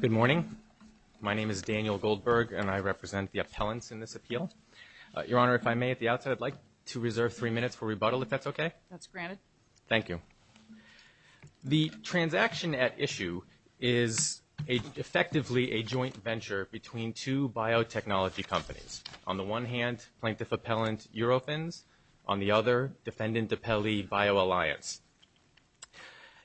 Good morning. My name is Daniel Goldberg, and I represent the appellants in this appeal. Your Honor, if I may, at the outset, I'd like to reserve three minutes for rebuttal, if that's okay? That's granted. Thank you. The transaction at issue is effectively a joint venture between two biotechnology companies. On the one hand, plaintiff-appellant Eurofins. On the other, defendant-appellee BioAlliance.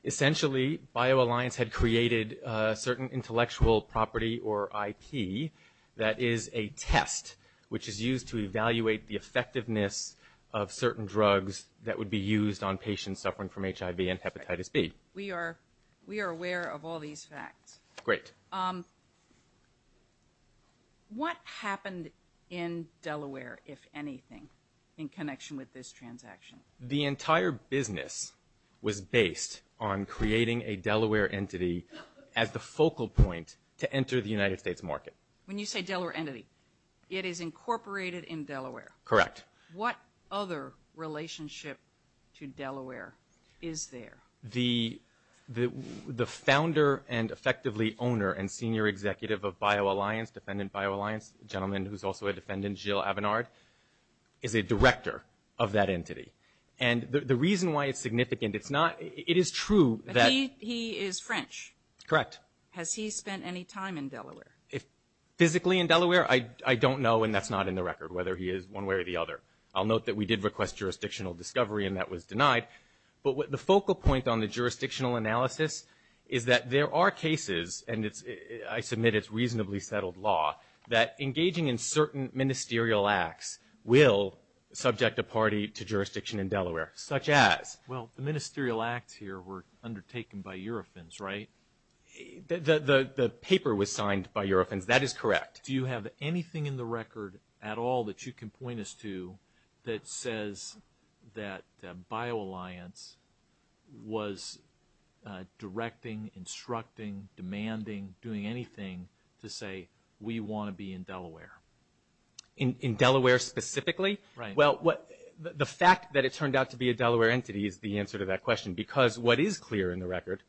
Essentially, BioAlliance had created a certain intellectual property, or IP, that is a test which is used to evaluate the effectiveness of certain drugs that would be used on patients suffering from HIV and hepatitis B. We are aware of all these facts. Great. What happened in Delaware, if anything, in connection with this transaction? The entire business was based on creating a Delaware entity as the focal point to enter the United States market. When you say Delaware entity, it is incorporated in Delaware. Correct. What other relationship to Delaware is there? The founder and effectively owner and senior executive of BioAlliance, defendant BioAlliance, a gentleman who's also a defendant, Jill Abenard, is a director of that entity. And the reason why it's significant, it's not — it is true that — But he is French. Correct. Has he spent any time in Delaware? Physically in Delaware? I don't know, and that's not in the record, whether he is one way or the other. I'll note that we did request jurisdictional discovery, and that was denied. But the focal point on the jurisdictional analysis is that there are cases, and I submit it's reasonably settled law, that engaging in certain ministerial acts will subject a party to jurisdiction in Delaware, such as? Well, the ministerial acts here were undertaken by Eurofins, right? The paper was signed by Eurofins. That is correct. Do you have anything in the record at all that you can point us to that says that BioAlliance was directing, instructing, demanding, doing anything to say, we want to be in Delaware? In Delaware specifically? Right. Well, the fact that it turned out to be a Delaware entity is the answer to that question, because what is clear in the record?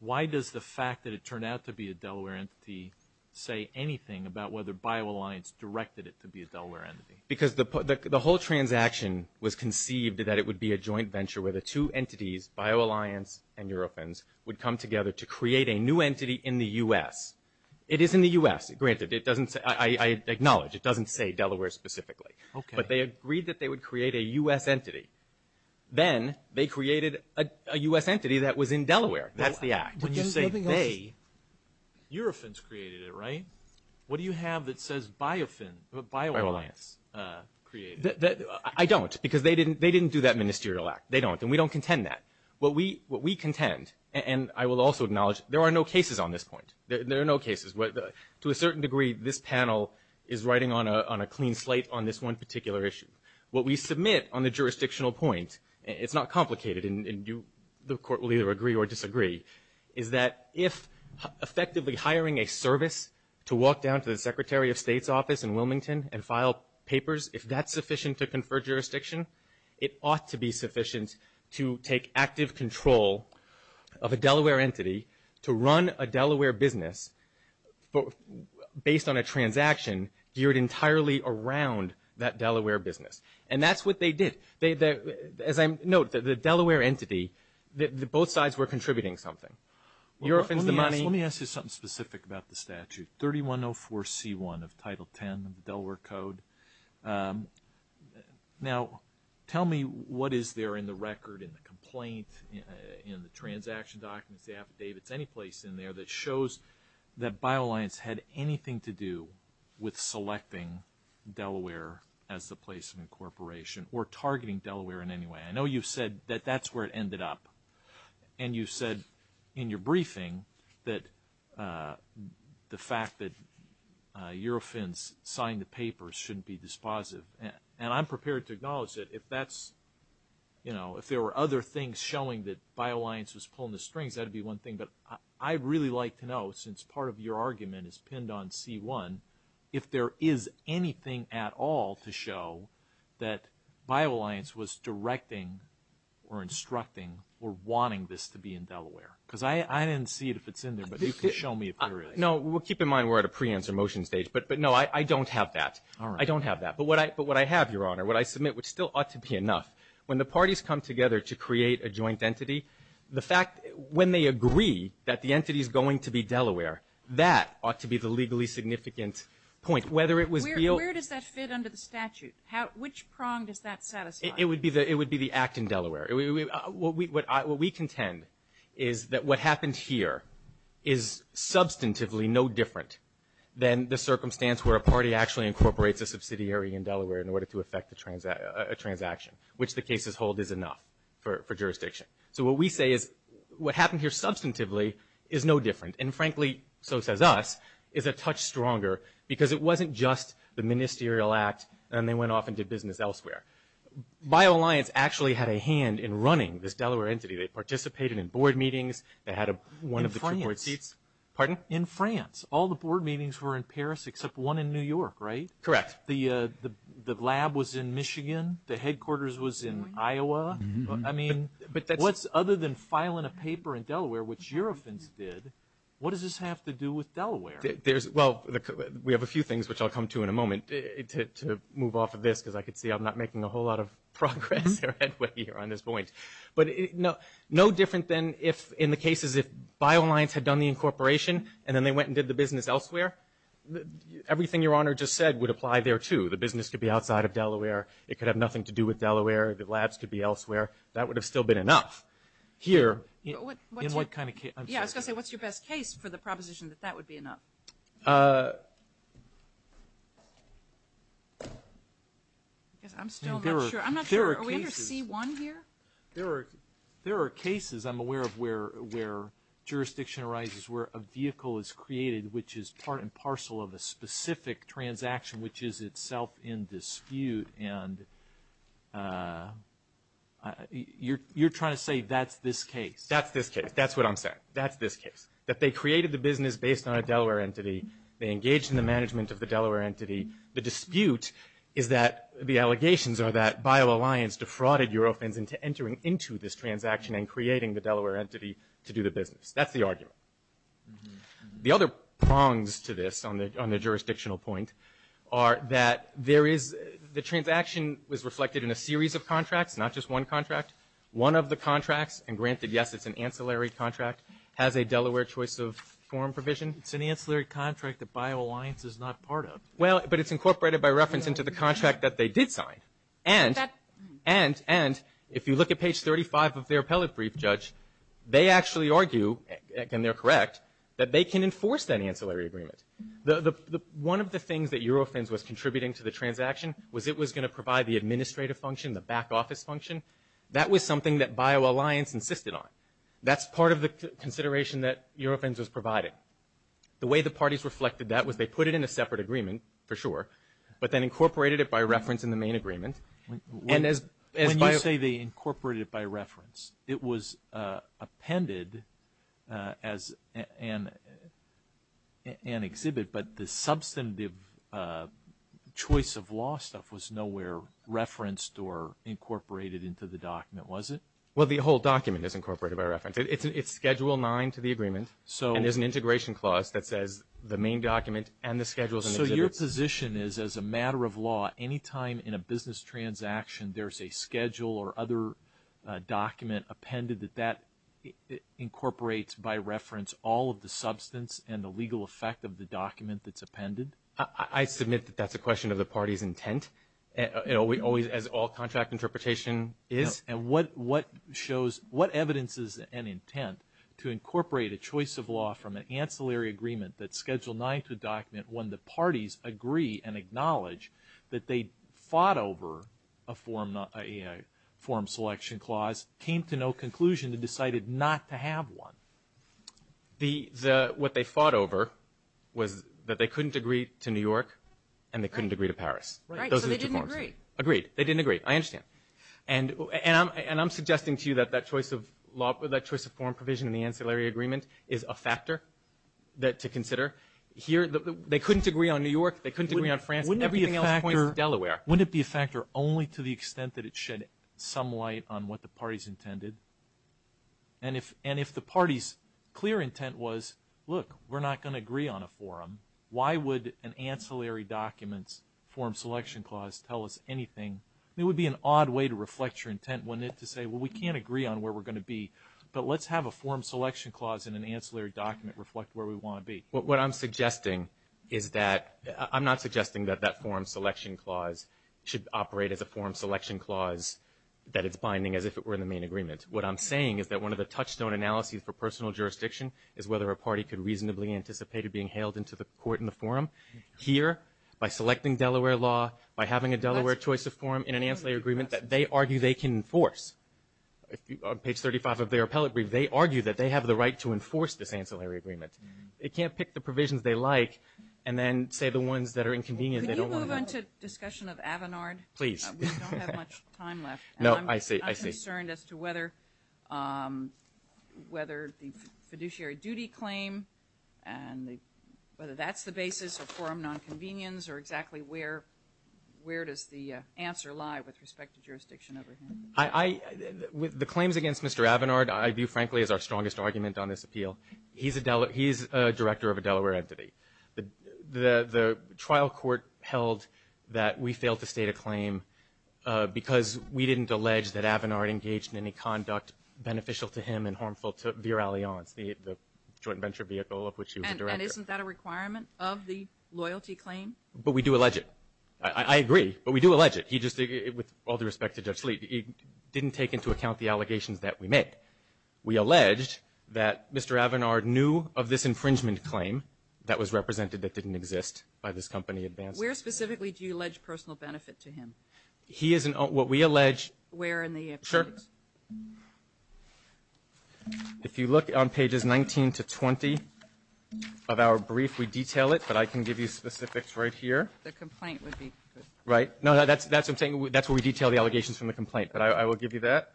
Why does the fact that it turned out to be a Delaware entity say anything about whether BioAlliance directed it to be a Delaware entity? Because the whole transaction was conceived that it would be a joint venture where the two entities, BioAlliance and Eurofins, would come together to create a new entity in the U.S. It is in the U.S., granted. I acknowledge it doesn't say Delaware specifically. Okay. But they agreed that they would create a U.S. entity. Then they created a U.S. entity that was in Delaware. That's the act. When you say they, Eurofins created it, right? What do you have that says BioAlliance? I don't, because they didn't do that ministerial act. They don't. And we don't contend that. What we contend, and I will also acknowledge, there are no cases on this point. There are no cases. To a certain degree, this panel is writing on a clean slate on this one particular issue. What we submit on the jurisdictional point, it's not complicated, and the Court will either agree or disagree, is that if effectively hiring a service to walk down to the Secretary of State's office in Wilmington and file papers, if that's sufficient to confer jurisdiction, it ought to be sufficient to take active control of a Delaware entity to run a Delaware business based on a transaction geared entirely around that Delaware business. And that's what they did. As I note, the Delaware entity, both sides were contributing something. Eurofins, the money. Let me ask you something specific about the statute. 3104C1 of Title X of the Delaware Code. Now, tell me what is there in the record, in the complaint, in the transaction documents, the affidavits, any place in there that shows that BioAlliance had anything to do with selecting Delaware as the place of incorporation or targeting Delaware in any way. I know you've said that that's where it ended up. And you said in your briefing that the fact that Eurofins signed the papers shouldn't be dispositive. And I'm prepared to acknowledge that if that's, you know, if there were other things showing that BioAlliance was pulling the strings, that would be one thing. But I'd really like to know, since part of your argument is pinned on C1, if there is anything at all to show that BioAlliance was directing or instructing or wanting this to be in Delaware. Because I didn't see it if it's in there, but you can show me if there is. No, we'll keep in mind we're at a pre-answer motion stage. But, no, I don't have that. I don't have that. But what I have, Your Honor, what I submit, which still ought to be enough, when the parties come together to create a joint entity, the fact when they agree that the entity is going to be Delaware, that ought to be the legally significant point. Whether it was real. Where does that fit under the statute? Which prong does that satisfy? It would be the act in Delaware. What we contend is that what happened here is substantively no different than the circumstance where a party actually incorporates a subsidiary in Delaware in order to effect a transaction, which the cases hold is enough for jurisdiction. So what we say is what happened here substantively is no different. And, frankly, so says us, is a touch stronger because it wasn't just the ministerial act and they went off and did business elsewhere. BioAlliance actually had a hand in running this Delaware entity. They participated in board meetings. They had one of the two board seats. In France. Pardon? In France. All the board meetings were in Paris except one in New York, right? Correct. The lab was in Michigan. The headquarters was in Iowa. I mean, what's other than filing a paper in Delaware, which your offense did, what does this have to do with Delaware? Well, we have a few things, which I'll come to in a moment, to move off of this, because I can see I'm not making a whole lot of progress or headway here on this point. But no different than in the cases if BioAlliance had done the incorporation and then they went and did the business elsewhere. Everything Your Honor just said would apply there, too. The business could be outside of Delaware. It could have nothing to do with Delaware. The labs could be elsewhere. That would have still been enough. Here, in what kind of case? Yeah, I was going to say, what's your best case for the proposition that that would be enough? I guess I'm still not sure. I'm not sure. Are we under C1 here? There are cases I'm aware of where jurisdiction arises where a vehicle is created, which is part and parcel of a specific transaction, which is itself in dispute. You're trying to say that's this case. That's this case. That's what I'm saying. That's this case. That they created the business based on a Delaware entity. They engaged in the management of the Delaware entity. The dispute is that the allegations are that BioAlliance defrauded Eurofins into entering into this transaction and creating the Delaware entity to do the business. That's the argument. The other prongs to this on the jurisdictional point are that there is the transaction was reflected in a series of contracts, not just one contract. One of the contracts, and granted, yes, it's an ancillary contract, has a Delaware choice of form provision. It's an ancillary contract that BioAlliance is not part of. Well, but it's incorporated by reference into the contract that they did sign. And if you look at page 35 of their appellate brief, Judge, they actually argue, and they're correct, that they can enforce that ancillary agreement. One of the things that Eurofins was contributing to the transaction was it was going to provide the administrative function, the back office function. That was something that BioAlliance insisted on. That's part of the consideration that Eurofins was providing. The way the parties reflected that was they put it in a separate agreement, for sure, but then incorporated it by reference in the main agreement. When you say they incorporated it by reference, it was appended as an exhibit, but the substantive choice of law stuff was nowhere referenced or incorporated into the document, was it? Well, the whole document is incorporated by reference. It's Schedule 9 to the agreement, and there's an integration clause that says the main document and the schedules and exhibits. So your position is, as a matter of law, any time in a business transaction there's a schedule or other document appended that that incorporates by reference all of the substance and the legal effect of the document that's appended? I submit that that's a question of the party's intent, as all contract interpretation is. And what evidence is an intent to incorporate a choice of law from an ancillary agreement that Schedule 9 to the document when the parties agree and acknowledge that they fought over a form selection clause, came to no conclusion and decided not to have one? What they fought over was that they couldn't agree to New York and they couldn't agree to Paris. Right. So they didn't agree. Agreed. They didn't agree. I understand. And I'm suggesting to you that that choice of law, that choice of form provision in the ancillary agreement, is a factor to consider. They couldn't agree on New York. They couldn't agree on France. Everything else points to Delaware. Wouldn't it be a factor only to the extent that it shed some light on what the parties intended? And if the party's clear intent was, look, we're not going to agree on a forum, why would an ancillary document's form selection clause tell us anything? It would be an odd way to reflect your intent, wouldn't it, to say, well, we can't agree on where we're going to be, but let's have a forum selection clause in an ancillary document reflect where we want to be. What I'm suggesting is that – I'm not suggesting that that forum selection clause should operate as a forum selection clause, that it's binding as if it were in the main agreement. What I'm saying is that one of the touchstone analyses for personal jurisdiction is whether a party could reasonably anticipate it being hailed into the court in the forum here by selecting Delaware law, by having a Delaware choice of forum in an ancillary agreement that they argue they can enforce. On page 35 of their appellate brief, they argue that they have the right to enforce this ancillary agreement. They can't pick the provisions they like and then say the ones that are inconvenient, they don't want to know. Could you move on to discussion of Avinard? Please. We don't have much time left. No, I see. I'm concerned as to whether the fiduciary duty claim and whether that's the basis of forum nonconvenience or exactly where does the answer lie with respect to jurisdiction over him? The claims against Mr. Avinard I view, frankly, as our strongest argument on this appeal. He's a director of a Delaware entity. The trial court held that we failed to state a claim because we didn't allege that Avinard engaged in any conduct beneficial to him and harmful to Vir Allianz, the joint venture vehicle of which he was a director. And isn't that a requirement of the loyalty claim? But we do allege it. I agree. But we do allege it. He just, with all due respect to Judge Sleet, he didn't take into account the allegations that we made. We alleged that Mr. Avinard knew of this infringement claim that was represented that didn't exist by this company, Advance. Where specifically do you allege personal benefit to him? He is in what we allege. Where in the appendix? Sure. If you look on pages 19 to 20 of our brief, we detail it. But I can give you specifics right here. The complaint would be. Right. No, that's what I'm saying. That's where we detail the allegations from the complaint. But I will give you that.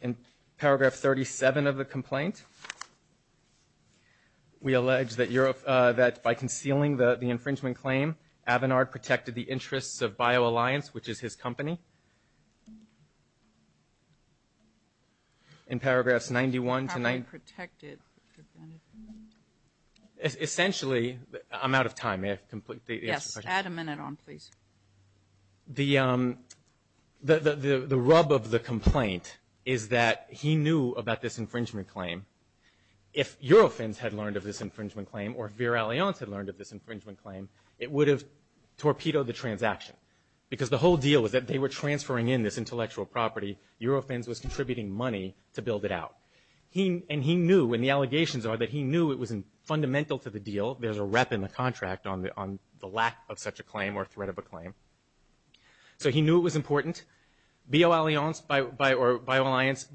In paragraph 37 of the complaint, we allege that by concealing the infringement claim, Avinard protected the interests of BioAlliance, which is his company. In paragraphs 91 to 91. How could he protect it? Essentially, I'm out of time. May I complete the question? Yes. Add a minute on, please. The rub of the complaint is that he knew about this infringement claim. If Eurofins had learned of this infringement claim, or if BioAlliance had learned of this infringement claim, it would have torpedoed the transaction. Because the whole deal was that they were transferring in this intellectual property. Eurofins was contributing money to build it out. And he knew, and the allegations are that he knew it was fundamental to the deal. There's a rep in the contract on the lack of such a claim or threat of a claim. So he knew it was important. BioAlliance,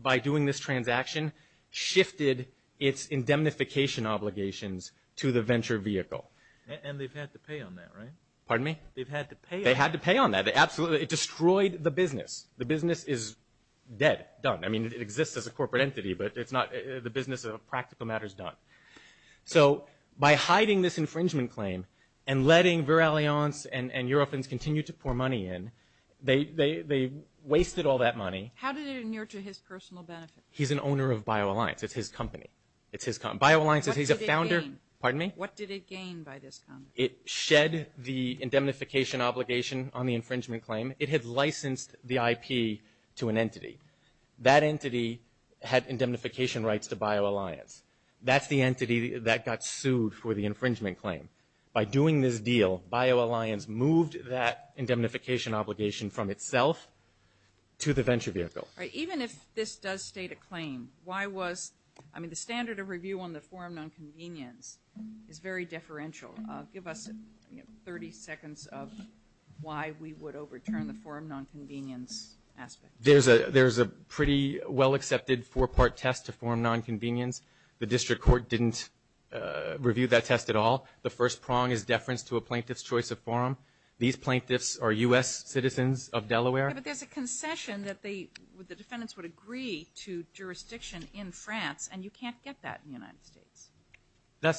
by doing this transaction, shifted its indemnification obligations to the venture vehicle. And they've had to pay on that, right? Pardon me? They've had to pay on that. They had to pay on that, absolutely. It destroyed the business. The business is dead, done. I mean, it exists as a corporate entity, but it's not. The business of practical matter is done. So by hiding this infringement claim and letting BioAlliance and Eurofins continue to pour money in, they wasted all that money. How did it inure to his personal benefit? He's an owner of BioAlliance. It's his company. It's his company. BioAlliance, he's a founder. What did it gain? Pardon me? What did it gain by this? It shed the indemnification obligation on the infringement claim. It had licensed the IP to an entity. That entity had indemnification rights to BioAlliance. That's the entity that got sued for the infringement claim. By doing this deal, BioAlliance moved that indemnification obligation from itself to the venture vehicle. Even if this does state a claim, why was the standard of review on the forum nonconvenience is very deferential. Give us 30 seconds of why we would overturn the forum nonconvenience aspect. There's a pretty well-accepted four-part test to forum nonconvenience. The district court didn't review that test at all. The first prong is deference to a plaintiff's choice of forum. These plaintiffs are U.S. citizens of Delaware. But there's a concession that the defendants would agree to jurisdiction in France, and you can't get that in the United States.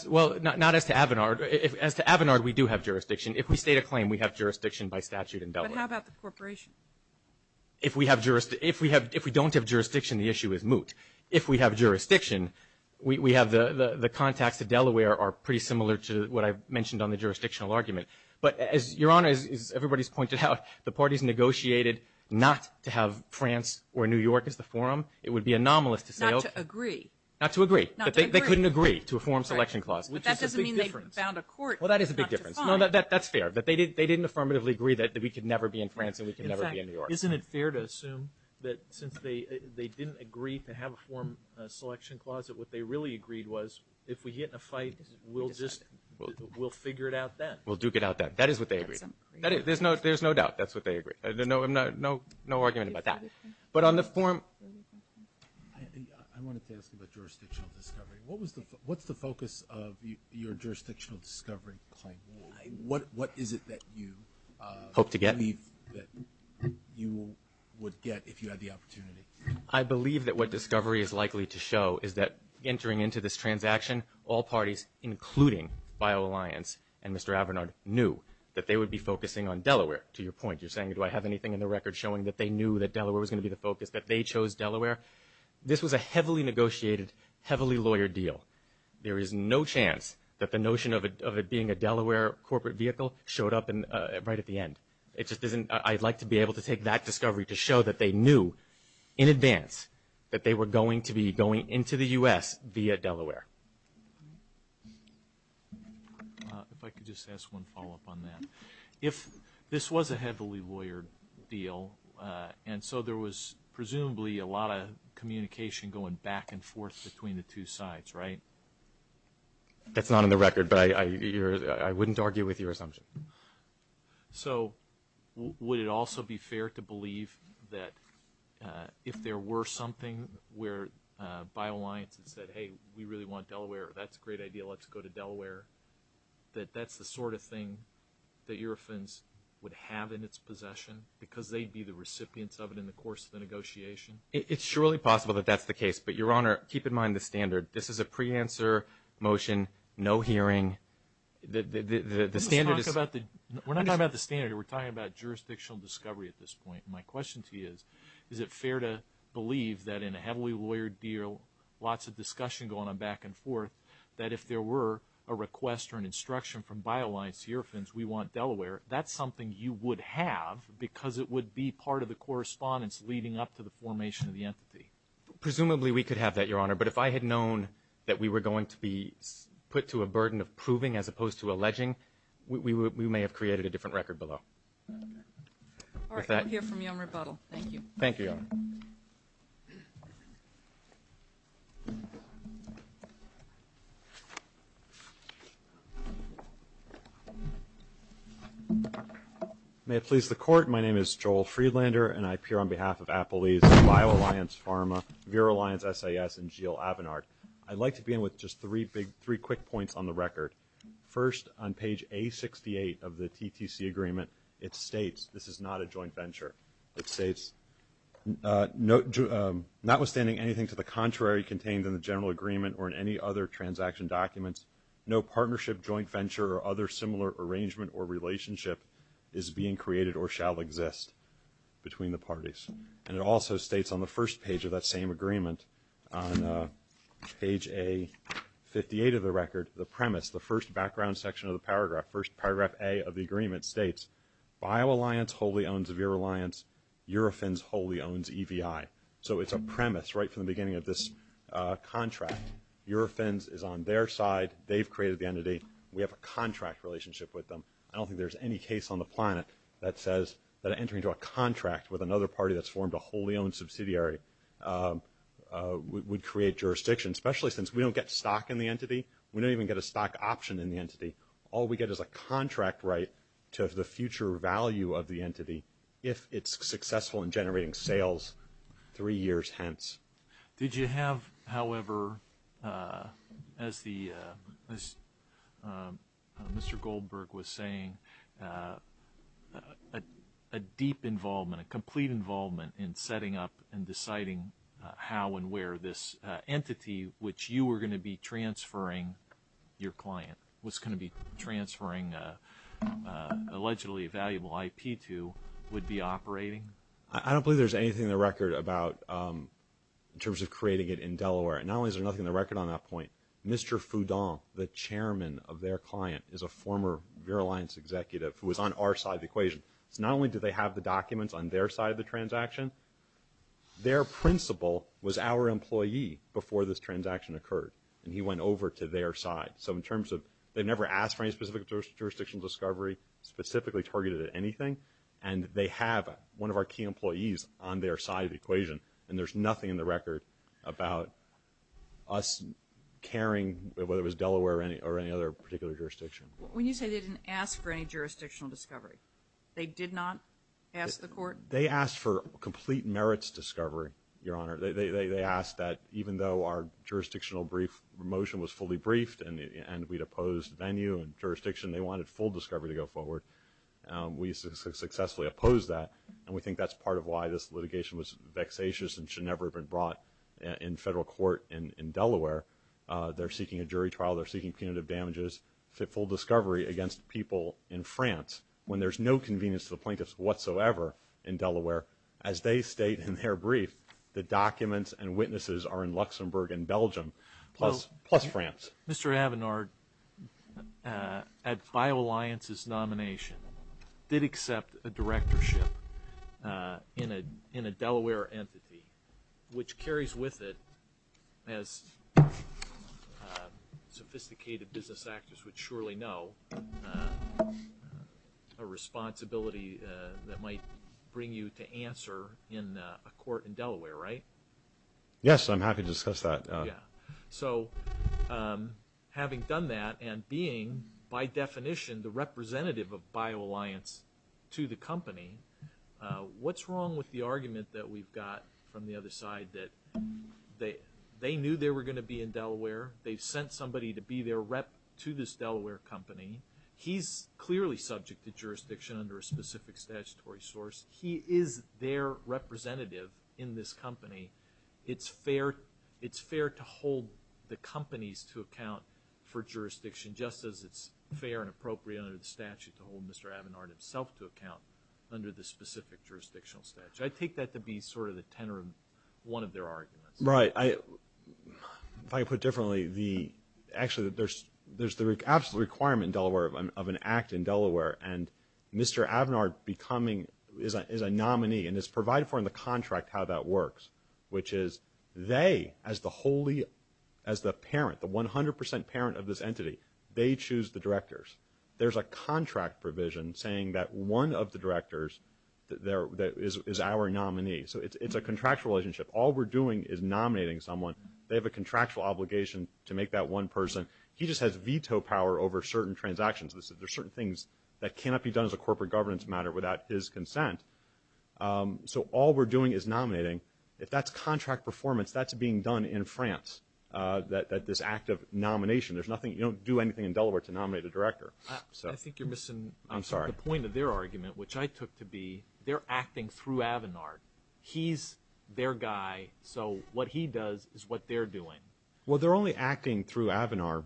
Well, not as to Avinard. As to Avinard, we do have jurisdiction. If we state a claim, we have jurisdiction by statute in Delaware. But how about the corporation? If we don't have jurisdiction, the issue is moot. If we have jurisdiction, the contacts to Delaware are pretty similar to what I mentioned on the jurisdictional argument. But, Your Honor, as everybody's pointed out, the parties negotiated not to have France or New York as the forum. It would be anomalous to say, okay. Not to agree. Not to agree. They couldn't agree to a forum selection clause, which is a big difference. That doesn't mean they found a court not to find. Well, that is a big difference. No, that's fair. They didn't affirmatively agree that we could never be in France and we could never be in New York. Isn't it fair to assume that since they didn't agree to have a forum selection clause, that what they really agreed was if we get in a fight, we'll just figure it out then? We'll duke it out then. That is what they agreed. There's no doubt. That's what they agreed. No argument about that. But on the forum. I wanted to ask about jurisdictional discovery. What's the focus of your jurisdictional discovery claim? What is it that you believe that you would get if you had the opportunity? I believe that what discovery is likely to show is that entering into this transaction, all parties, including BioAlliance and Mr. Avernard, knew that they would be focusing on Delaware. To your point, you're saying do I have anything in the record showing that they knew that Delaware was going to be the focus, that they chose Delaware? This was a heavily negotiated, heavily lawyered deal. There is no chance that the notion of it being a Delaware corporate vehicle showed up right at the end. I'd like to be able to take that discovery to show that they knew in advance that they were going to be going into the U.S. via Delaware. If I could just ask one follow-up on that. If this was a heavily lawyered deal, and so there was presumably a lot of communication going back and forth between the two sides, right? That's not in the record, but I wouldn't argue with your assumption. So would it also be fair to believe that if there were something where BioAlliance had said, hey, we really want Delaware, that's a great idea, let's go to Delaware, that that's the sort of thing that Eurofins would have in its possession because they'd be the recipients of it in the course of the negotiation? It's surely possible that that's the case. But, Your Honor, keep in mind the standard. This is a pre-answer motion, no hearing. We're not talking about the standard. We're talking about jurisdictional discovery at this point. My question to you is, is it fair to believe that in a heavily lawyered deal, lots of discussion going on back and forth, that if there were a request or an instruction from BioAlliance to Eurofins, we want Delaware, that's something you would have because it would be part of the correspondence leading up to the formation of the entity? Presumably we could have that, Your Honor. But if I had known that we were going to be put to a burden of proving as opposed to alleging, we may have created a different record below. All right. We'll hear from you on rebuttal. Thank you. Thank you, Your Honor. May it please the Court, my name is Joel Friedlander, and I appear on behalf of Appalese, BioAlliance Pharma, Vero Alliance SAS, and Gilles Avenard. I'd like to begin with just three quick points on the record. First, on page A68 of the TTC agreement, it states, this is not a joint venture. It states, notwithstanding anything to the contrary contained in the general agreement or in any other transaction documents, no partnership, joint venture, or other similar arrangement or relationship is being created or shall exist between the parties. And it also states on the first page of that same agreement, on page A58 of the record, the premise, the first background section of the paragraph, first paragraph A of the agreement states, BioAlliance wholly owns Vero Alliance. Eurofins wholly owns EVI. So it's a premise right from the beginning of this contract. Eurofins is on their side. They've created the entity. We have a contract relationship with them. I don't think there's any case on the planet that says that entering into a contract with another party that's formed a wholly owned subsidiary would create jurisdiction, especially since we don't get stock in the entity. We don't even get a stock option in the entity. All we get is a contract right to the future value of the entity if it's successful in generating sales three years hence. Did you have, however, as Mr. Goldberg was saying, a deep involvement, a complete involvement in setting up and deciding how and where this entity, which you were going to be transferring your client, was going to be transferring allegedly valuable IP to, would be operating? I don't believe there's anything in the record about in terms of creating it in Delaware. And not only is there nothing in the record on that point, Mr. Foudon, the chairman of their client, is a former Vero Alliance executive who was on our side of the equation. So not only do they have the documents on their side of the transaction, their principal was our employee before this transaction occurred, and he went over to their side. So in terms of they've never asked for any specific jurisdiction discovery, specifically targeted at anything. And they have one of our key employees on their side of the equation, and there's nothing in the record about us caring, whether it was Delaware or any other particular jurisdiction. When you say they didn't ask for any jurisdictional discovery, they did not ask the court? They asked for complete merits discovery, Your Honor. They asked that even though our jurisdictional brief motion was fully briefed and we'd opposed venue and jurisdiction, they wanted full discovery to go forward. We successfully opposed that, and we think that's part of why this litigation was vexatious and should never have been brought in federal court in Delaware. They're seeking a jury trial. They're seeking punitive damages, full discovery against people in France when there's no convenience to the plaintiffs whatsoever in Delaware as they state in their brief the documents and witnesses are in Luxembourg and Belgium, plus France. Mr. Avenard, at BioAlliance's nomination, did accept a directorship in a Delaware entity, which carries with it, as sophisticated business actors would surely know, a responsibility that might bring you to answer in a court in Delaware, right? Yes, I'm happy to discuss that. So having done that and being, by definition, the representative of BioAlliance to the company, what's wrong with the argument that we've got from the other side that they knew they were going to be in Delaware, they've sent somebody to be their rep to this Delaware company, he's clearly subject to jurisdiction under a specific statutory source, he is their representative in this company. It's fair to hold the companies to account for jurisdiction, just as it's fair and appropriate under the statute to hold Mr. Avenard himself to account under the specific jurisdictional statute. I take that to be sort of the tenor of one of their arguments. Right. If I put it differently, actually there's the absolute requirement in Delaware, of an act in Delaware, and Mr. Avenard is a nominee and is provided for in the contract how that works, which is they, as the parent, the 100% parent of this entity, they choose the directors. There's a contract provision saying that one of the directors is our nominee. So it's a contractual relationship. All we're doing is nominating someone. They have a contractual obligation to make that one person. He just has veto power over certain transactions. There are certain things that cannot be done as a corporate governance matter without his consent. So all we're doing is nominating. If that's contract performance, that's being done in France, this act of nomination. You don't do anything in Delaware to nominate a director. I think you're missing the point of their argument, which I took to be they're acting through Avenard. He's their guy, so what he does is what they're doing. Well, they're only acting through Avenard.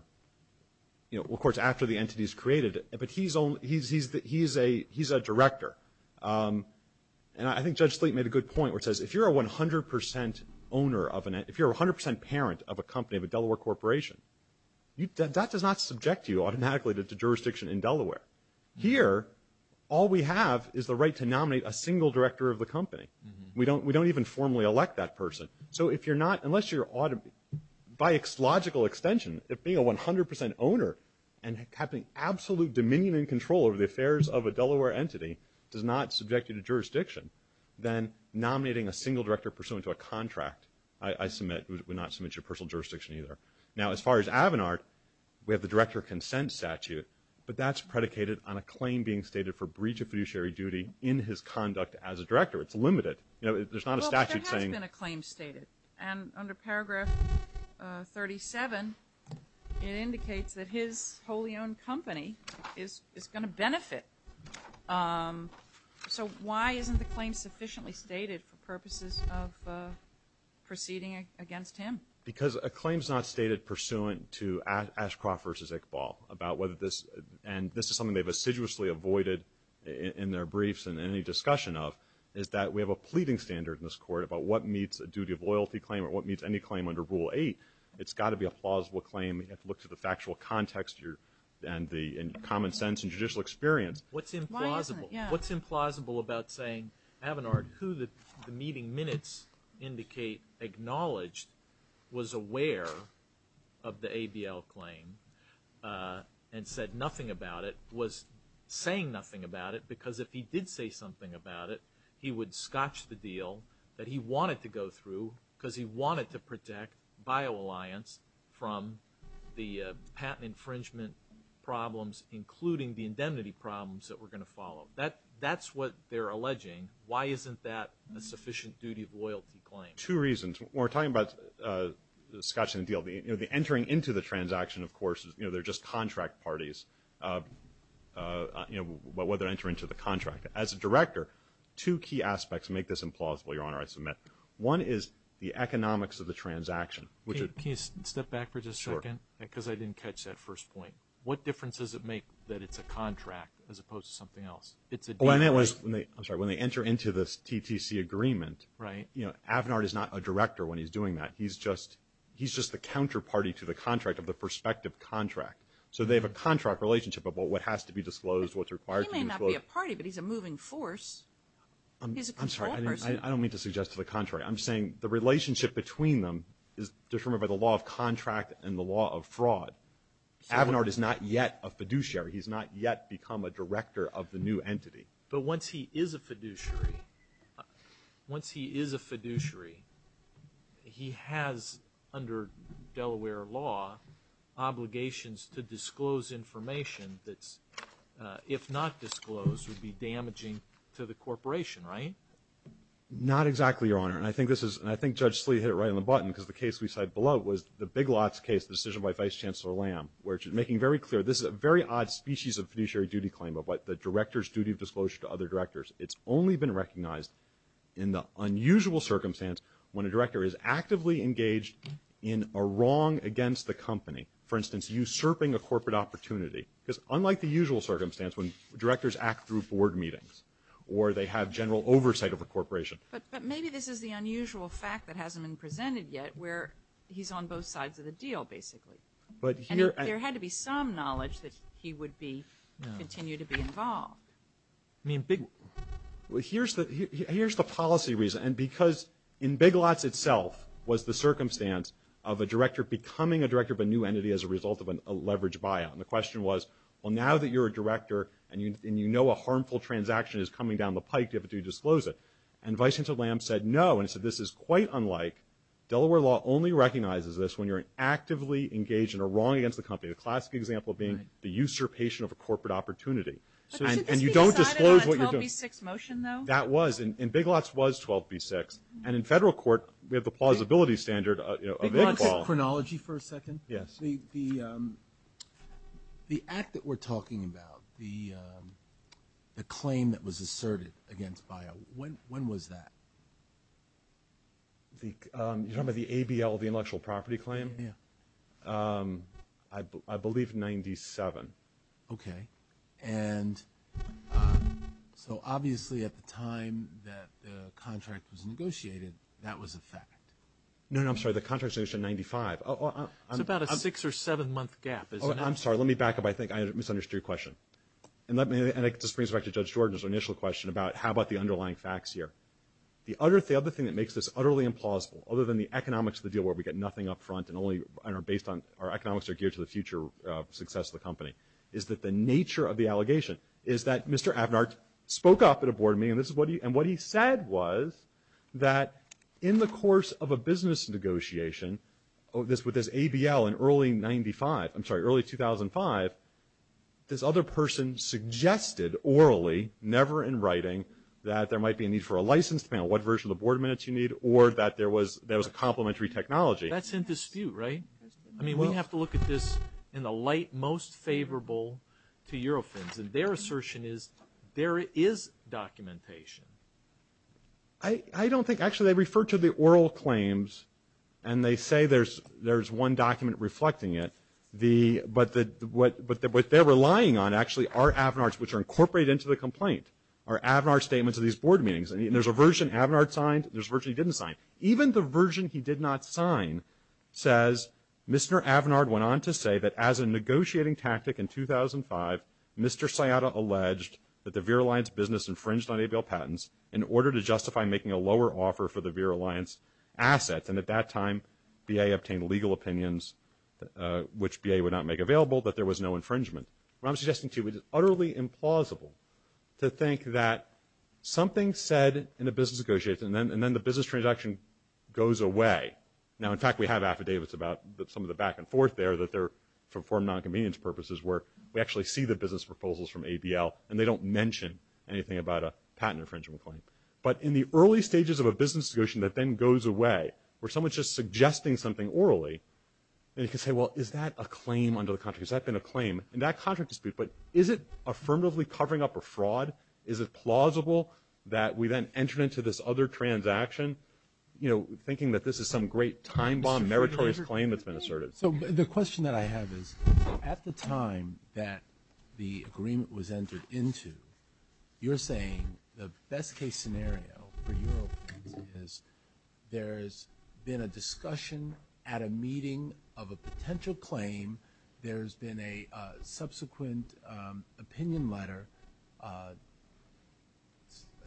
Of course, after the entity is created, but he's a director. And I think Judge Sleet made a good point where it says if you're a 100% owner of an entity, if you're a 100% parent of a company, of a Delaware corporation, that does not subject you automatically to jurisdiction in Delaware. Here, all we have is the right to nominate a single director of the company. We don't even formally elect that person. So if you're not, unless you're, by logical extension, if being a 100% owner and having absolute dominion and control over the affairs of a Delaware entity does not subject you to jurisdiction, then nominating a single director pursuant to a contract, I submit, would not submit to your personal jurisdiction either. Now, as far as Avenard, we have the director consent statute, but that's predicated on a claim being stated for breach of fiduciary duty in his conduct as a director. It's limited. You know, there's not a statute saying. Well, there has been a claim stated. And under Paragraph 37, it indicates that his wholly owned company is going to benefit. So why isn't the claim sufficiently stated for purposes of proceeding against him? Because a claim is not stated pursuant to Ashcroft v. Iqbal about whether this, and this is something they've assiduously avoided in their briefs and any discussion of, is that we have a pleading standard in this Court about what meets a duty of loyalty claim or what meets any claim under Rule 8. It's got to be a plausible claim. You have to look to the factual context and the common sense and judicial experience. Why isn't it? What's implausible about saying, Avenard, who the meeting minutes indicate acknowledged was aware of the ABL claim and said nothing about it was saying nothing about it he would scotch the deal that he wanted to go through because he wanted to protect BioAlliance from the patent infringement problems, including the indemnity problems that were going to follow. That's what they're alleging. Why isn't that a sufficient duty of loyalty claim? Two reasons. We're talking about scotching the deal. You know, the entering into the transaction, of course, you know, they're just contract parties. You know, whether to enter into the contract. As a director, two key aspects make this implausible, Your Honor, I submit. One is the economics of the transaction. Can you step back for just a second? Sure. Because I didn't catch that first point. What difference does it make that it's a contract as opposed to something else? It's a deal. I'm sorry. When they enter into this TTC agreement, you know, Avenard is not a director when he's doing that. He's just the counterparty to the contract of the prospective contract. So they have a contract relationship about what has to be disclosed, what's required to be disclosed. He's a contract party, but he's a moving force. He's a control person. I'm sorry. I don't mean to suggest to the contrary. I'm saying the relationship between them is determined by the law of contract and the law of fraud. Avenard is not yet a fiduciary. He's not yet become a director of the new entity. But once he is a fiduciary, once he is a fiduciary, he has, under Delaware law, obligations to disclose information that's, if not disclosed, would be damaging to the corporation, right? Not exactly, Your Honor. And I think this is, and I think Judge Sleet hit it right on the button because the case we cite below was the Big Lots case, the decision by Vice Chancellor Lamb, where she's making very clear this is a very odd species of fiduciary duty claim of what the director's duty of disclosure to other directors. It's only been recognized in the unusual circumstance when a director is actively engaged in a wrong against the company. For instance, usurping a corporate opportunity. Because unlike the usual circumstance when directors act through board meetings or they have general oversight of a corporation. But maybe this is the unusual fact that hasn't been presented yet where he's on both sides of the deal, basically. And there had to be some knowledge that he would be, continue to be involved. I mean, Big Lots. Well, here's the policy reason. And because in Big Lots itself was the circumstance of a director becoming a director of a new entity as a result of a leveraged buyout. And the question was, well, now that you're a director and you know a harmful transaction is coming down the pike, do you have to disclose it? And Vice Chancellor Lamb said no, and said this is quite unlike, Delaware law only recognizes this when you're actively engaged in a wrong against the company. A classic example being the usurpation of a corporate opportunity. And you don't disclose what you're doing. But should this be decided on a 12B6 motion, though? That was. And Big Lots was 12B6. And in federal court, we have the plausibility standard of equality. Big Lots is chronology for a second. Yes. The act that we're talking about, the claim that was asserted against buyout, when was that? You're talking about the ABL, the intellectual property claim? Yeah. I believe in 97. Okay. And so obviously at the time that the contract was negotiated, that was a fact. No, no. I'm sorry. The contract was negotiated in 95. It's about a six- or seven-month gap, isn't it? I'm sorry. Let me back up. I think I misunderstood your question. And let me just bring this back to Judge Jordan's initial question about how about the underlying facts here. The other thing that makes this utterly implausible, other than the economics of the deal where we get nothing up front and only based on our economics are geared to the future success of the company, is that the nature of the allegation is that Mr. Avnart spoke up at a board meeting. And what he said was that in the course of a business negotiation with this ABL in early 95, I'm sorry, early 2005, this other person suggested orally, never in writing, that there might be a need for a license depending on what version of the board minutes you need or that there was a complementary technology. That's in dispute, right? I mean, we have to look at this in the light most favorable to Eurofins. And their assertion is there is documentation. I don't think. Actually, they refer to the oral claims, and they say there's one document reflecting it. But what they're relying on actually are Avnarts, which are incorporated into the complaint, are Avnart statements at these board meetings. And there's a version Avnart signed. There's a version he didn't sign. Even the version he did not sign says Mr. Avnart went on to say that as a negotiating tactic in 2005, Mr. Sciatta alleged that the Vera Alliance business infringed on ABL patents in order to justify making a lower offer for the Vera Alliance assets. And at that time, BA obtained legal opinions, which BA would not make available, that there was no infringement. What I'm suggesting to you is it's utterly implausible to think that something said in a business negotiation and then the business transaction goes away. Now, in fact, we have affidavits about some of the back and forth there that they're for nonconvenience purposes where we actually see the business proposals from ABL, and they don't mention anything about a patent infringement claim. But in the early stages of a business negotiation that then goes away, where someone's just suggesting something orally, then you can say, well, is that a claim under the contract? Has that been a claim in that contract dispute? But is it affirmatively covering up a fraud? Is it plausible that we then entered into this other transaction, you know, thinking that this is some great time bomb, meritorious claim that's been asserted? So the question that I have is at the time that the agreement was entered into, you're saying the best case scenario for your opinion is there's been a discussion at a meeting of a potential claim. There's been a subsequent opinion letter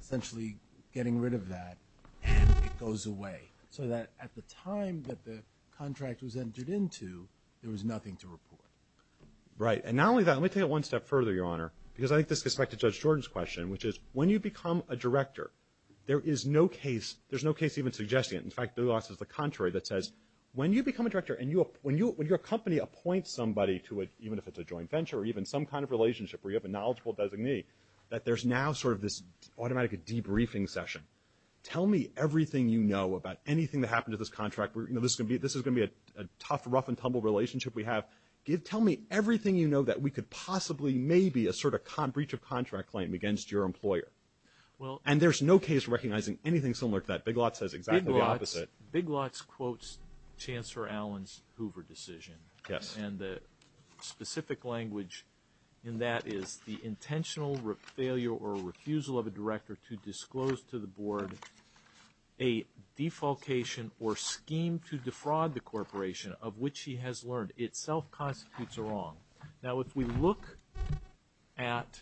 essentially getting rid of that, and it goes away. So that at the time that the contract was entered into, there was nothing to report. Right. And not only that, let me take it one step further, Your Honor, because I think this gets back to Judge Jordan's question, which is when you become a director, there is no case, there's no case even suggesting it. In fact, Big Lots is the contrary that says when you become a director and your company appoints somebody to it, even if it's a joint venture or even some kind of relationship where you have a knowledgeable designee, that there's now sort of this automatic debriefing session. Tell me everything you know about anything that happened to this contract. This is going to be a tough, rough and tumble relationship we have. Tell me everything you know that we could possibly, maybe, assert a breach of contract claim against your employer. And there's no case recognizing anything similar to that. Big Lots says exactly the opposite. Big Lots quotes Chancellor Allen's Hoover decision. Yes. And the specific language in that is the intentional failure or refusal of a director to disclose to the board a defalcation or scheme to defraud the corporation of which he has learned. It self-constitutes a wrong. Now, if we look at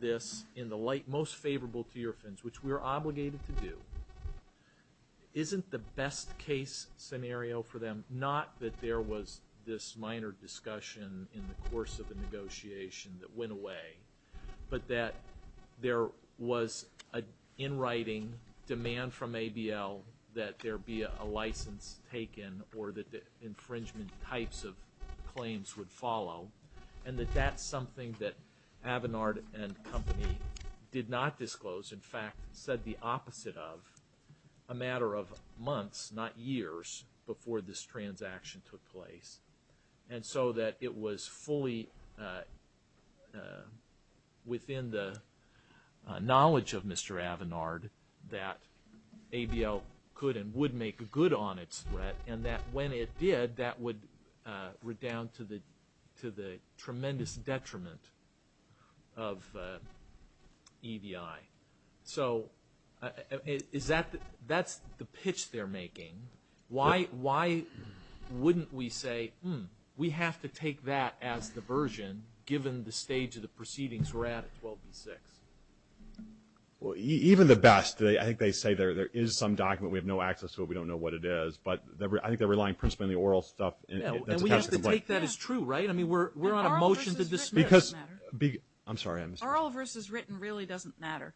this in the light most favorable to your offense, which we are obligated to do, isn't the best case scenario for them, not that there was this minor discussion in the course of the negotiation that went away, but that there was an in writing demand from ABL that there be a license taken or that the infringement types of claims would follow, and that that's something that Avinard and company did not disclose, in fact said the opposite of a matter of months, not years, before this transaction took place. And so that it was fully within the knowledge of Mr. Avinard that ABL could and would make a good on its threat, and that when it did, that would redound to the tremendous detriment of EDI. So that's the pitch they're making. Why wouldn't we say, hmm, we have to take that as the version, given the stage of the proceedings we're at at 12B6? Well, even the best, I think they say there is some document we have no access to, we don't know what it is, but I think they're relying principally on the oral stuff. And we have to take that as true, right? I mean, we're on a motion to dismiss. Because, I'm sorry. Oral versus written really doesn't matter.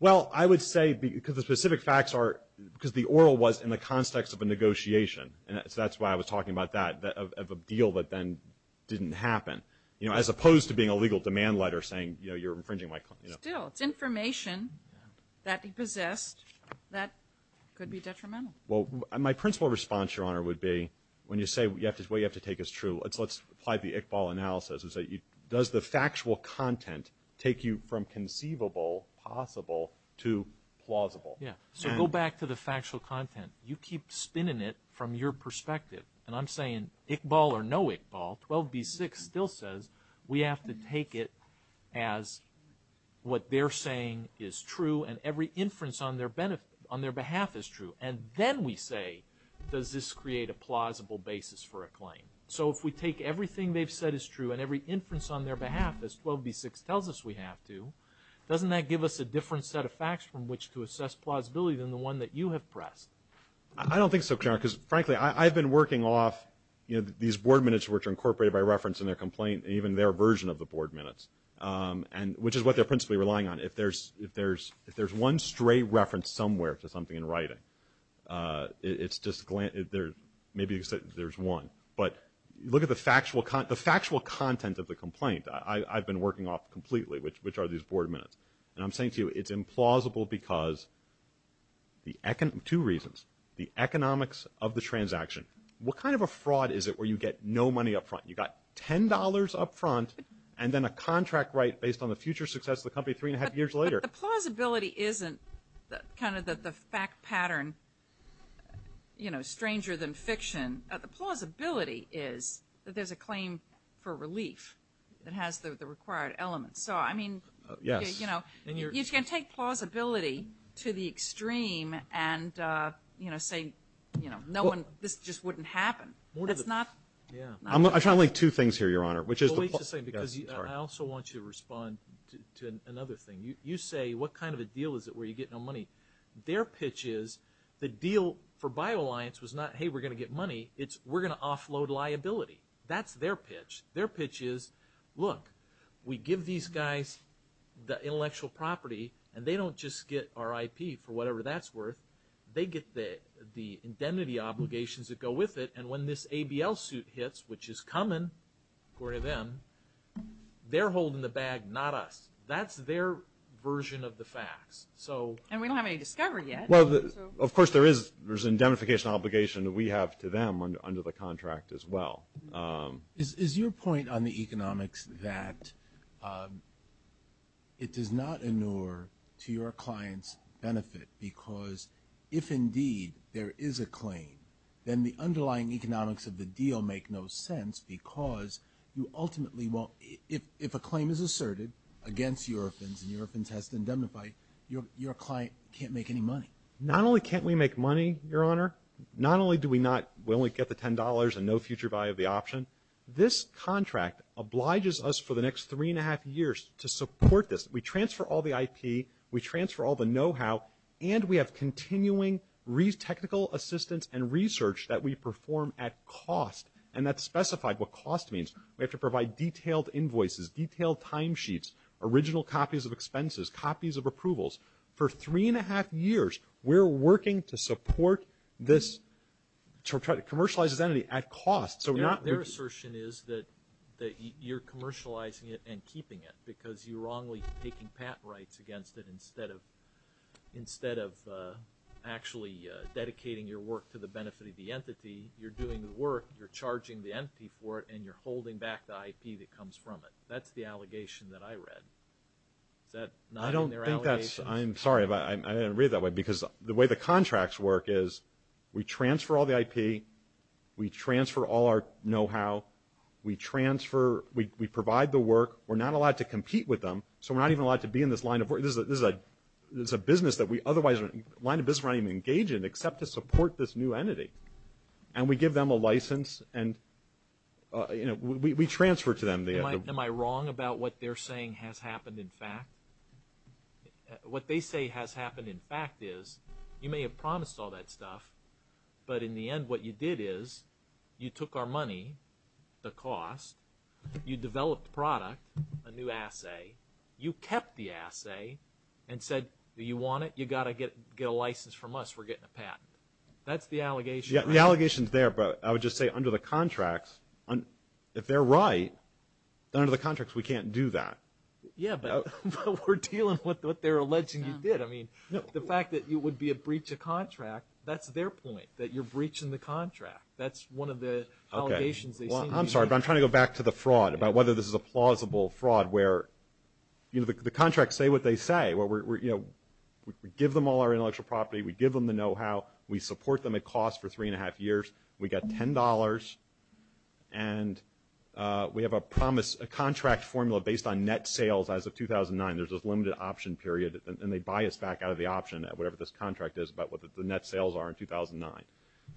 Well, I would say because the specific facts are, because the oral was in the context of a negotiation, and so that's why I was talking about that, of a deal that then didn't happen, as opposed to being a legal demand letter saying, you know, you're infringing my claim. Still, it's information that he possessed that could be detrimental. Well, my principal response, Your Honor, would be when you say what you have to take as true, let's apply the Iqbal analysis, is that does the factual content take you from conceivable, possible, to plausible? Yeah. So go back to the factual content. You keep spinning it from your perspective. And I'm saying Iqbal or no Iqbal. 12b-6 still says we have to take it as what they're saying is true and every inference on their behalf is true. And then we say, does this create a plausible basis for a claim? So if we take everything they've said is true and every inference on their behalf, as 12b-6 tells us we have to, doesn't that give us a different set of facts from which to assess plausibility than the one that you have pressed? I don't think so, Your Honor, because, frankly, I've been working off, you know, these board minutes which are incorporated by reference in their complaint and even their version of the board minutes, which is what they're principally relying on. If there's one stray reference somewhere to something in writing, it's just maybe there's one. But look at the factual content of the complaint I've been working off completely, which are these board minutes. And I'm saying to you it's implausible because two reasons. The economics of the transaction. What kind of a fraud is it where you get no money up front? You got $10 up front and then a contract right based on the future success of the company three and a half years later. But the plausibility isn't kind of the fact pattern, you know, stranger than fiction. The plausibility is that there's a claim for relief that has the required elements. So, I mean, you know, you can take plausibility to the extreme and, you know, say, you know, this just wouldn't happen. I'm trying to link two things here, Your Honor. I also want you to respond to another thing. You say what kind of a deal is it where you get no money. Their pitch is the deal for BioAlliance was not, hey, we're going to get money. It's we're going to offload liability. That's their pitch. Their pitch is, look, we give these guys the intellectual property and they don't just get our IP for whatever that's worth. They get the indemnity obligations that go with it. And when this ABL suit hits, which is coming, according to them, they're holding the bag, not us. That's their version of the facts. And we don't have any discovery yet. Well, of course, there is an indemnification obligation that we have to them under the contract as well. Is your point on the economics that it does not inure to your client's benefit because if indeed there is a claim, then the underlying economics of the deal make no sense because you ultimately won't, if a claim is asserted against Eurofins and Eurofins has to indemnify, your client can't make any money. Not only can't we make money, Your Honor, not only do we not, we only get the $10 and no future value of the option, this contract obliges us for the next three and a half years to support this. We transfer all the IP, we transfer all the know-how, and we have continuing technical assistance and research that we perform at cost. And that's specified what cost means. We have to provide detailed invoices, detailed timesheets, original copies of expenses, copies of approvals. For three and a half years, we're working to support this, to try to commercialize this entity at cost. Their assertion is that you're commercializing it and keeping it because you're wrongly taking patent rights against it instead of actually dedicating your work to the benefit of the entity. You're doing the work, you're charging the entity for it, and you're holding back the IP that comes from it. That's the allegation that I read. Is that not in their allegations? I'm sorry, but I didn't read it that way because the way the contracts work is we transfer all the IP, we transfer all our know-how, we transfer, we provide the work. We're not allowed to compete with them, so we're not even allowed to be in this line of work. This is a business that we otherwise wouldn't, line of business we're not even engaged in except to support this new entity. And we give them a license and, you know, we transfer to them. Am I wrong about what they're saying has happened in fact? What they say has happened in fact is you may have promised all that stuff, but in the end what you did is you took our money, the cost, you developed product, a new assay, you kept the assay and said, do you want it? You've got to get a license from us, we're getting a patent. That's the allegation. Yeah, the allegation's there, but I would just say under the contracts, if they're right, under the contracts we can't do that. Yeah, but we're dealing with what they're alleging you did. I mean, the fact that it would be a breach of contract, that's their point, that you're breaching the contract. That's one of the allegations they seem to be making. Okay, well, I'm sorry, but I'm trying to go back to the fraud, about whether this is a plausible fraud where, you know, the contracts say what they say. You know, we give them all our intellectual property, we give them the know-how, we support them at cost for three and a half years, we get $10, and we have a promise, a contract formula based on net sales as of 2009. There's this limited option period, and they buy us back out of the option, whatever this contract is, about what the net sales are in 2009.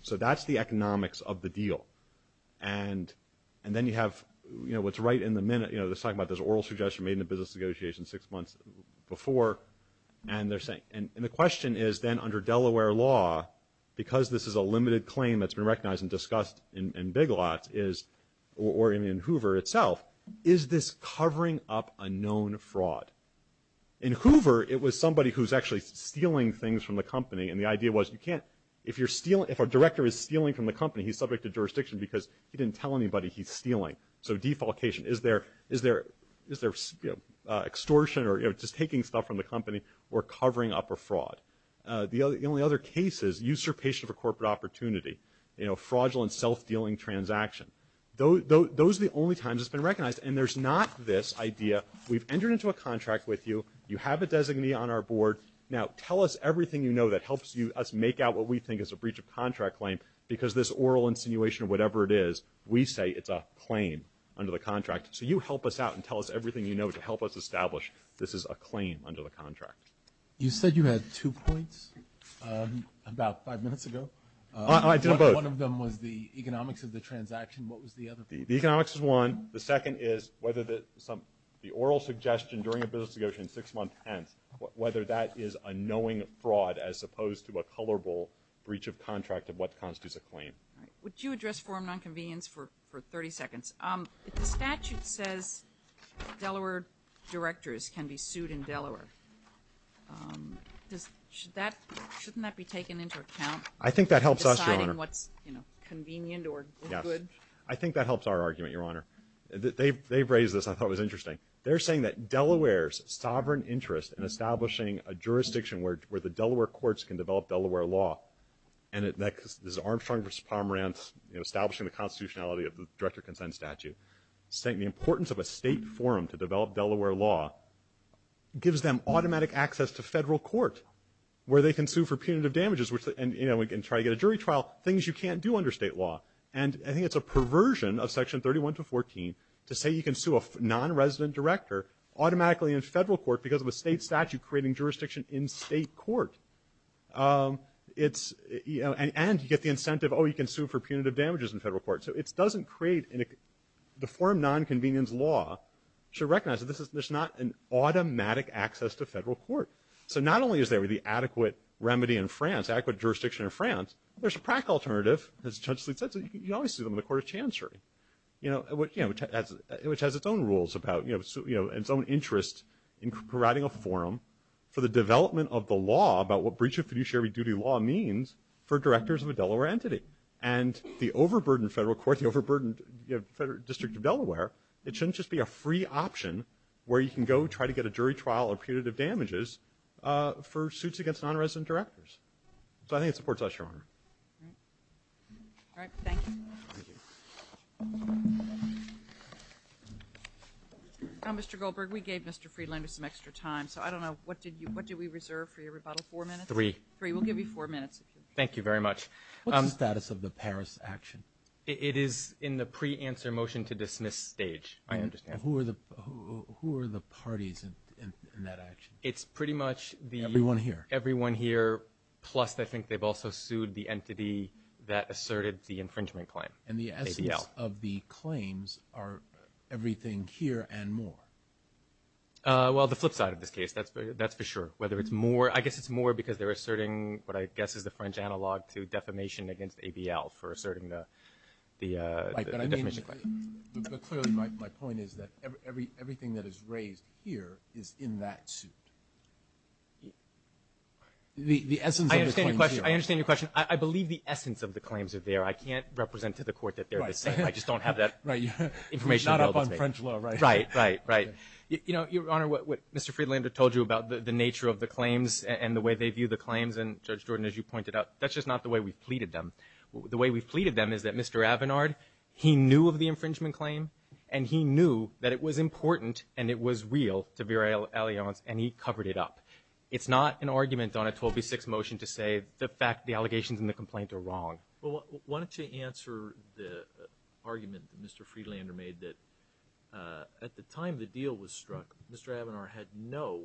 So that's the economics of the deal. And then you have, you know, what's right in the minute, you know, they're talking about this oral suggestion made in a business negotiation six months before, and the question is, then, under Delaware law, because this is a limited claim that's been recognized and discussed in Big Lots, or in Hoover itself, is this covering up a known fraud? In Hoover, it was somebody who's actually stealing things from the company, and the idea was, if a director is stealing from the company, he's subject to jurisdiction because he didn't tell anybody he's stealing. So defalcation, is there extortion, or just taking stuff from the company, or covering up a fraud? The only other case is usurpation of a corporate opportunity, you know, fraudulent self-dealing transaction. Those are the only times it's been recognized, and there's not this idea, we've entered into a contract with you, you have a designee on our board, now tell us everything you know that helps us make out what we think is a breach of contract claim, because this oral insinuation, whatever it is, we say it's a claim under the contract. So you help us out and tell us everything you know to help us establish this is a claim under the contract. You said you had two points about five minutes ago. I did both. One of them was the economics of the transaction. What was the other one? The economics is one. The second is whether the oral suggestion during a business negotiation six months hence, whether that is a knowing fraud as opposed to a colorable breach of contract of what constitutes a claim. All right. Would you address forum nonconvenience for 30 seconds? If the statute says Delaware directors can be sued in Delaware, shouldn't that be taken into account? I think that helps us, Your Honor. Deciding what's convenient or good. I think that helps our argument, Your Honor. They've raised this, and I thought it was interesting. They're saying that Delaware's sovereign interest in establishing a jurisdiction where the Delaware courts can develop Delaware law, and this is Armstrong v. Pomerantz establishing the constitutionality of the director-consent statute, saying the importance of a state forum to develop Delaware law gives them automatic access to federal court where they can sue for punitive damages and try to get a jury trial, things you can't do under state law. And I think it's a perversion of section 31 to 14 to say you can sue a nonresident director automatically in federal court because of a state statute creating jurisdiction in state court. And you get the incentive, oh, you can sue for punitive damages in federal court. So it doesn't create the forum nonconvenience law to recognize that there's not an automatic access to federal court. So not only is there the adequate remedy in France, adequate jurisdiction in France, there's a prac alternative, as Judge Sleet said, so you can always sue them in the court of chancery, which has its own rules about its own interest in providing a forum for the development of the law about what breach of fiduciary duty law means for directors of a Delaware entity. And the overburdened federal court, the overburdened district of Delaware, it shouldn't just be a free option where you can go try to get a jury trial or punitive damages for suits against nonresident directors. So I think it supports us, Your Honor. All right. Thank you. Mr. Goldberg, we gave Mr. Friedlander some extra time, so I don't know. What did we reserve for your rebuttal? Four minutes? Three. Three. We'll give you four minutes. Thank you very much. What's the status of the Paris action? It is in the pre-answer motion to dismiss stage. I understand. Who are the parties in that action? It's pretty much the – Everyone here. Everyone here, plus I think they've also sued the entity that asserted the infringement claim, ABL. And the essence of the claims are everything here and more? Well, the flip side of this case, that's for sure. Whether it's more – I guess it's more because they're asserting what I guess is the French analog to defamation against ABL for asserting the defamation claim. But clearly my point is that everything that is raised here is in that suit. The essence of the claims here. I understand your question. I understand your question. I believe the essence of the claims are there. I can't represent to the court that they're the same. I just don't have that information available to me. Right. It's not up on French law, right? Right, right, right. You know, Your Honor, what Mr. Friedlander told you about the nature of the claims and the way they view the claims, and, Judge Jordan, as you pointed out, that's just not the way we've pleaded them. The way we've pleaded them is that Mr. Avinard, he knew of the infringement claim, and he knew that it was important and it was real to Vera Allianz, and he covered it up. It's not an argument on a 12B6 motion to say the allegations in the complaint are wrong. Why don't you answer the argument that Mr. Friedlander made that at the time the deal was struck, Mr. Avinard had no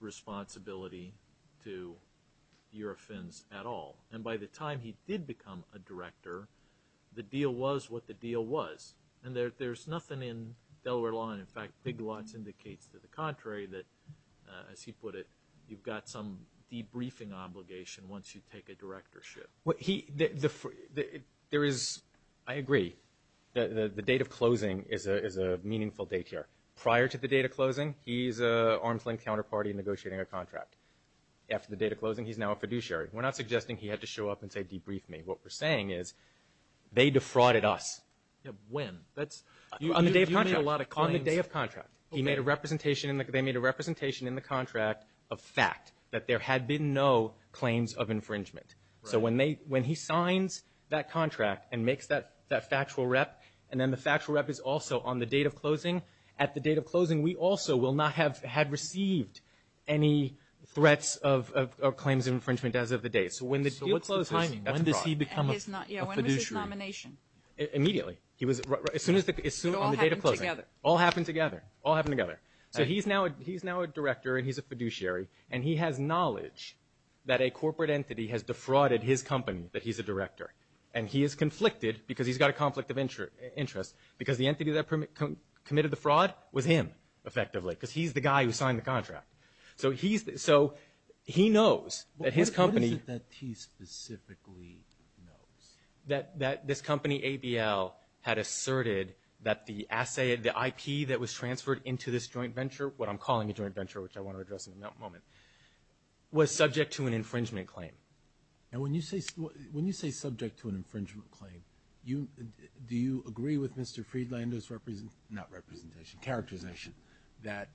responsibility to the Eurofins at all. And by the time he did become a director, the deal was what the deal was. And there's nothing in Delaware law, and, in fact, Big Lots indicates to the contrary, that, as he put it, you've got some debriefing obligation once you take a directorship. There is, I agree, the date of closing is a meaningful date here. Prior to the date of closing, he's an arm's-length counterparty negotiating a contract. After the date of closing, he's now a fiduciary. We're not suggesting he had to show up and say debrief me. What we're saying is they defrauded us. When? On the day of contract. On the day of contract. They made a representation in the contract of fact, that there had been no claims of infringement. So when he signs that contract and makes that factual rep, and then the factual rep is also on the date of closing, we also will not have had received any threats of claims of infringement as of the date. So when the deal closes, that's a fraud. So what's the timing? When does he become a fiduciary? Yeah, when was his nomination? Immediately. As soon as the date of closing. It all happened together. All happened together. All happened together. So he's now a director, and he's a fiduciary, and he has knowledge that a corporate entity has defrauded his company that he's a director. And he is conflicted because he's got a conflict of interest because the entity that committed the fraud was him, effectively, because he's the guy who signed the contract. So he knows that his company. What is it that he specifically knows? That this company, ABL, had asserted that the IP that was transferred into this joint venture, what I'm calling a joint venture, which I want to address in a moment, was subject to an infringement claim. Now, when you say subject to an infringement claim, do you agree with Mr. Friedlander's representation, not representation, characterization, that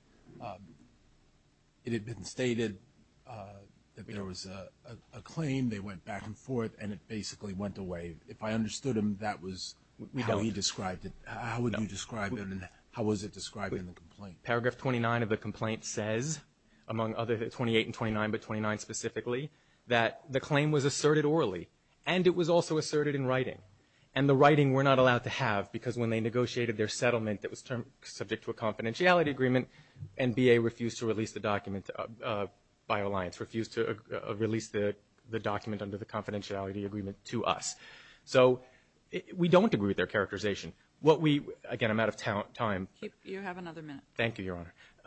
it had been stated that there was a claim, they went back and forth, and it basically went away? If I understood him, that was how he described it. How would you describe him, and how was it described in the complaint? Paragraph 29 of the complaint says, among others, 28 and 29, but 29 specifically, that the claim was asserted orally, and it was also asserted in writing. And the writing we're not allowed to have because when they negotiated their settlement, it was subject to a confidentiality agreement, and BA refused to release the document, BioAlliance refused to release the document under the confidentiality agreement to us. So we don't agree with their characterization. Again, I'm out of time. You have another minute. Thank you, Your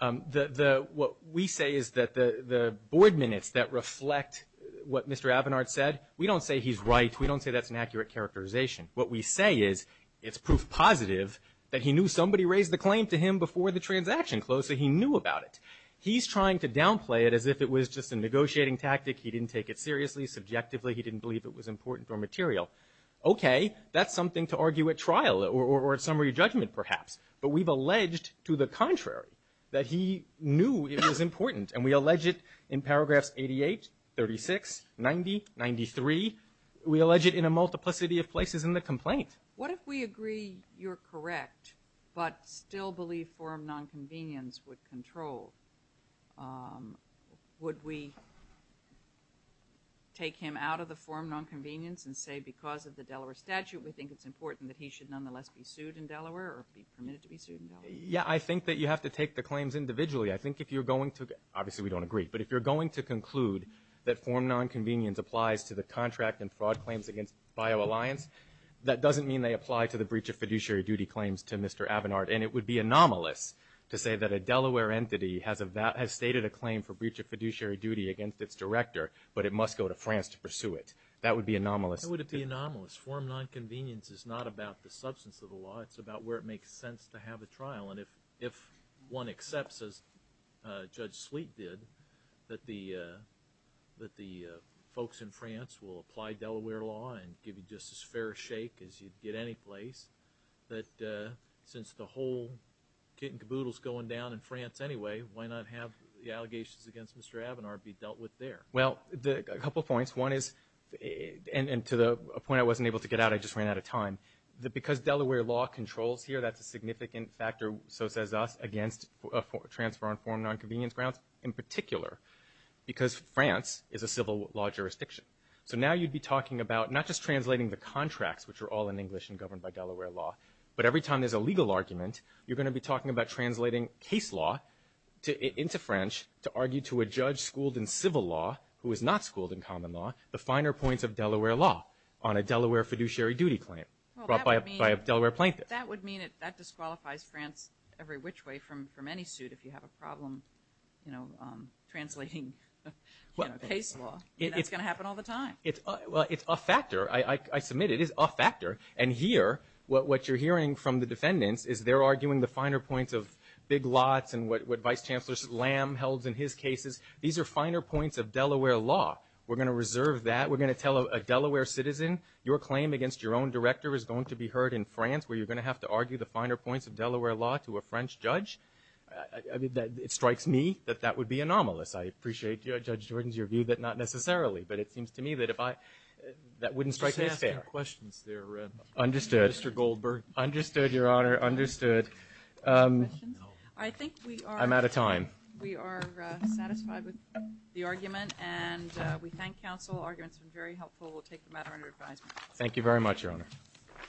Honor. What we say is that the board minutes that reflect what Mr. Avinard said, we don't say he's right. We don't say that's an accurate characterization. What we say is it's proof positive that he knew somebody raised the claim to him before the transaction closed, so he knew about it. He's trying to downplay it as if it was just a negotiating tactic. He didn't take it seriously. Subjectively, he didn't believe it was important or material. Okay, that's something to argue at trial or at summary judgment, perhaps. But we've alleged to the contrary, that he knew it was important, and we allege it in paragraphs 88, 36, 90, 93. We allege it in a multiplicity of places in the complaint. What if we agree you're correct but still believe forum nonconvenience would control? Would we take him out of the forum nonconvenience and say because of the Delaware statute, we think it's important that he should nonetheless be sued in Delaware or be permitted to be sued in Delaware? Yeah, I think that you have to take the claims individually. I think if you're going to, obviously we don't agree, but if you're going to conclude that forum nonconvenience applies to the contract and fraud claims against BioAlliance, that doesn't mean they apply to the breach of fiduciary duty claims to Mr. Avinard, and it would be anomalous to say that a Delaware entity has stated a claim for breach of fiduciary duty against its director, but it must go to France to pursue it. That would be anomalous. How would it be anomalous? Forum nonconvenience is not about the substance of the law. It's about where it makes sense to have a trial, and if one accepts, as Judge Sleet did, that the folks in France will apply Delaware law and give you just as fair a shake as you'd get anyplace, that since the whole kit and caboodle is going down in France anyway, why not have the allegations against Mr. Avinard be dealt with there? Well, a couple points. One is, and to the point I wasn't able to get out, I just ran out of time, that because Delaware law controls here, that's a significant factor, so says us, against transfer on forum nonconvenience grounds in particular because France is a civil law jurisdiction. So now you'd be talking about not just translating the contracts, which are all in English and governed by Delaware law, but every time there's a legal argument, you're going to be talking about translating case law into French to argue to a judge schooled in civil law who is not schooled in common law the finer points of Delaware law on a Delaware fiduciary duty claim brought by a Delaware plaintiff. That would mean that disqualifies France every which way from any suit if you have a problem translating case law. That's going to happen all the time. Well, it's a factor. I submit it is a factor. And here, what you're hearing from the defendants is they're arguing the finer points of big lots and what Vice Chancellor Lamb held in his cases. These are finer points of Delaware law. We're going to reserve that. We're going to tell a Delaware citizen, your claim against your own director is going to be heard in France where you're going to have to argue the finer points of Delaware law to a French judge. It strikes me that that would be anomalous. I appreciate, Judge Jordans, your view that not necessarily, but it seems to me that wouldn't strike me as fair. Just asking questions there, Mr. Goldberg. Understood, Your Honor, understood. I think we are satisfied with the argument, and we thank counsel. Arguments have been very helpful. We'll take the matter under advisement. Thank you very much, Your Honor.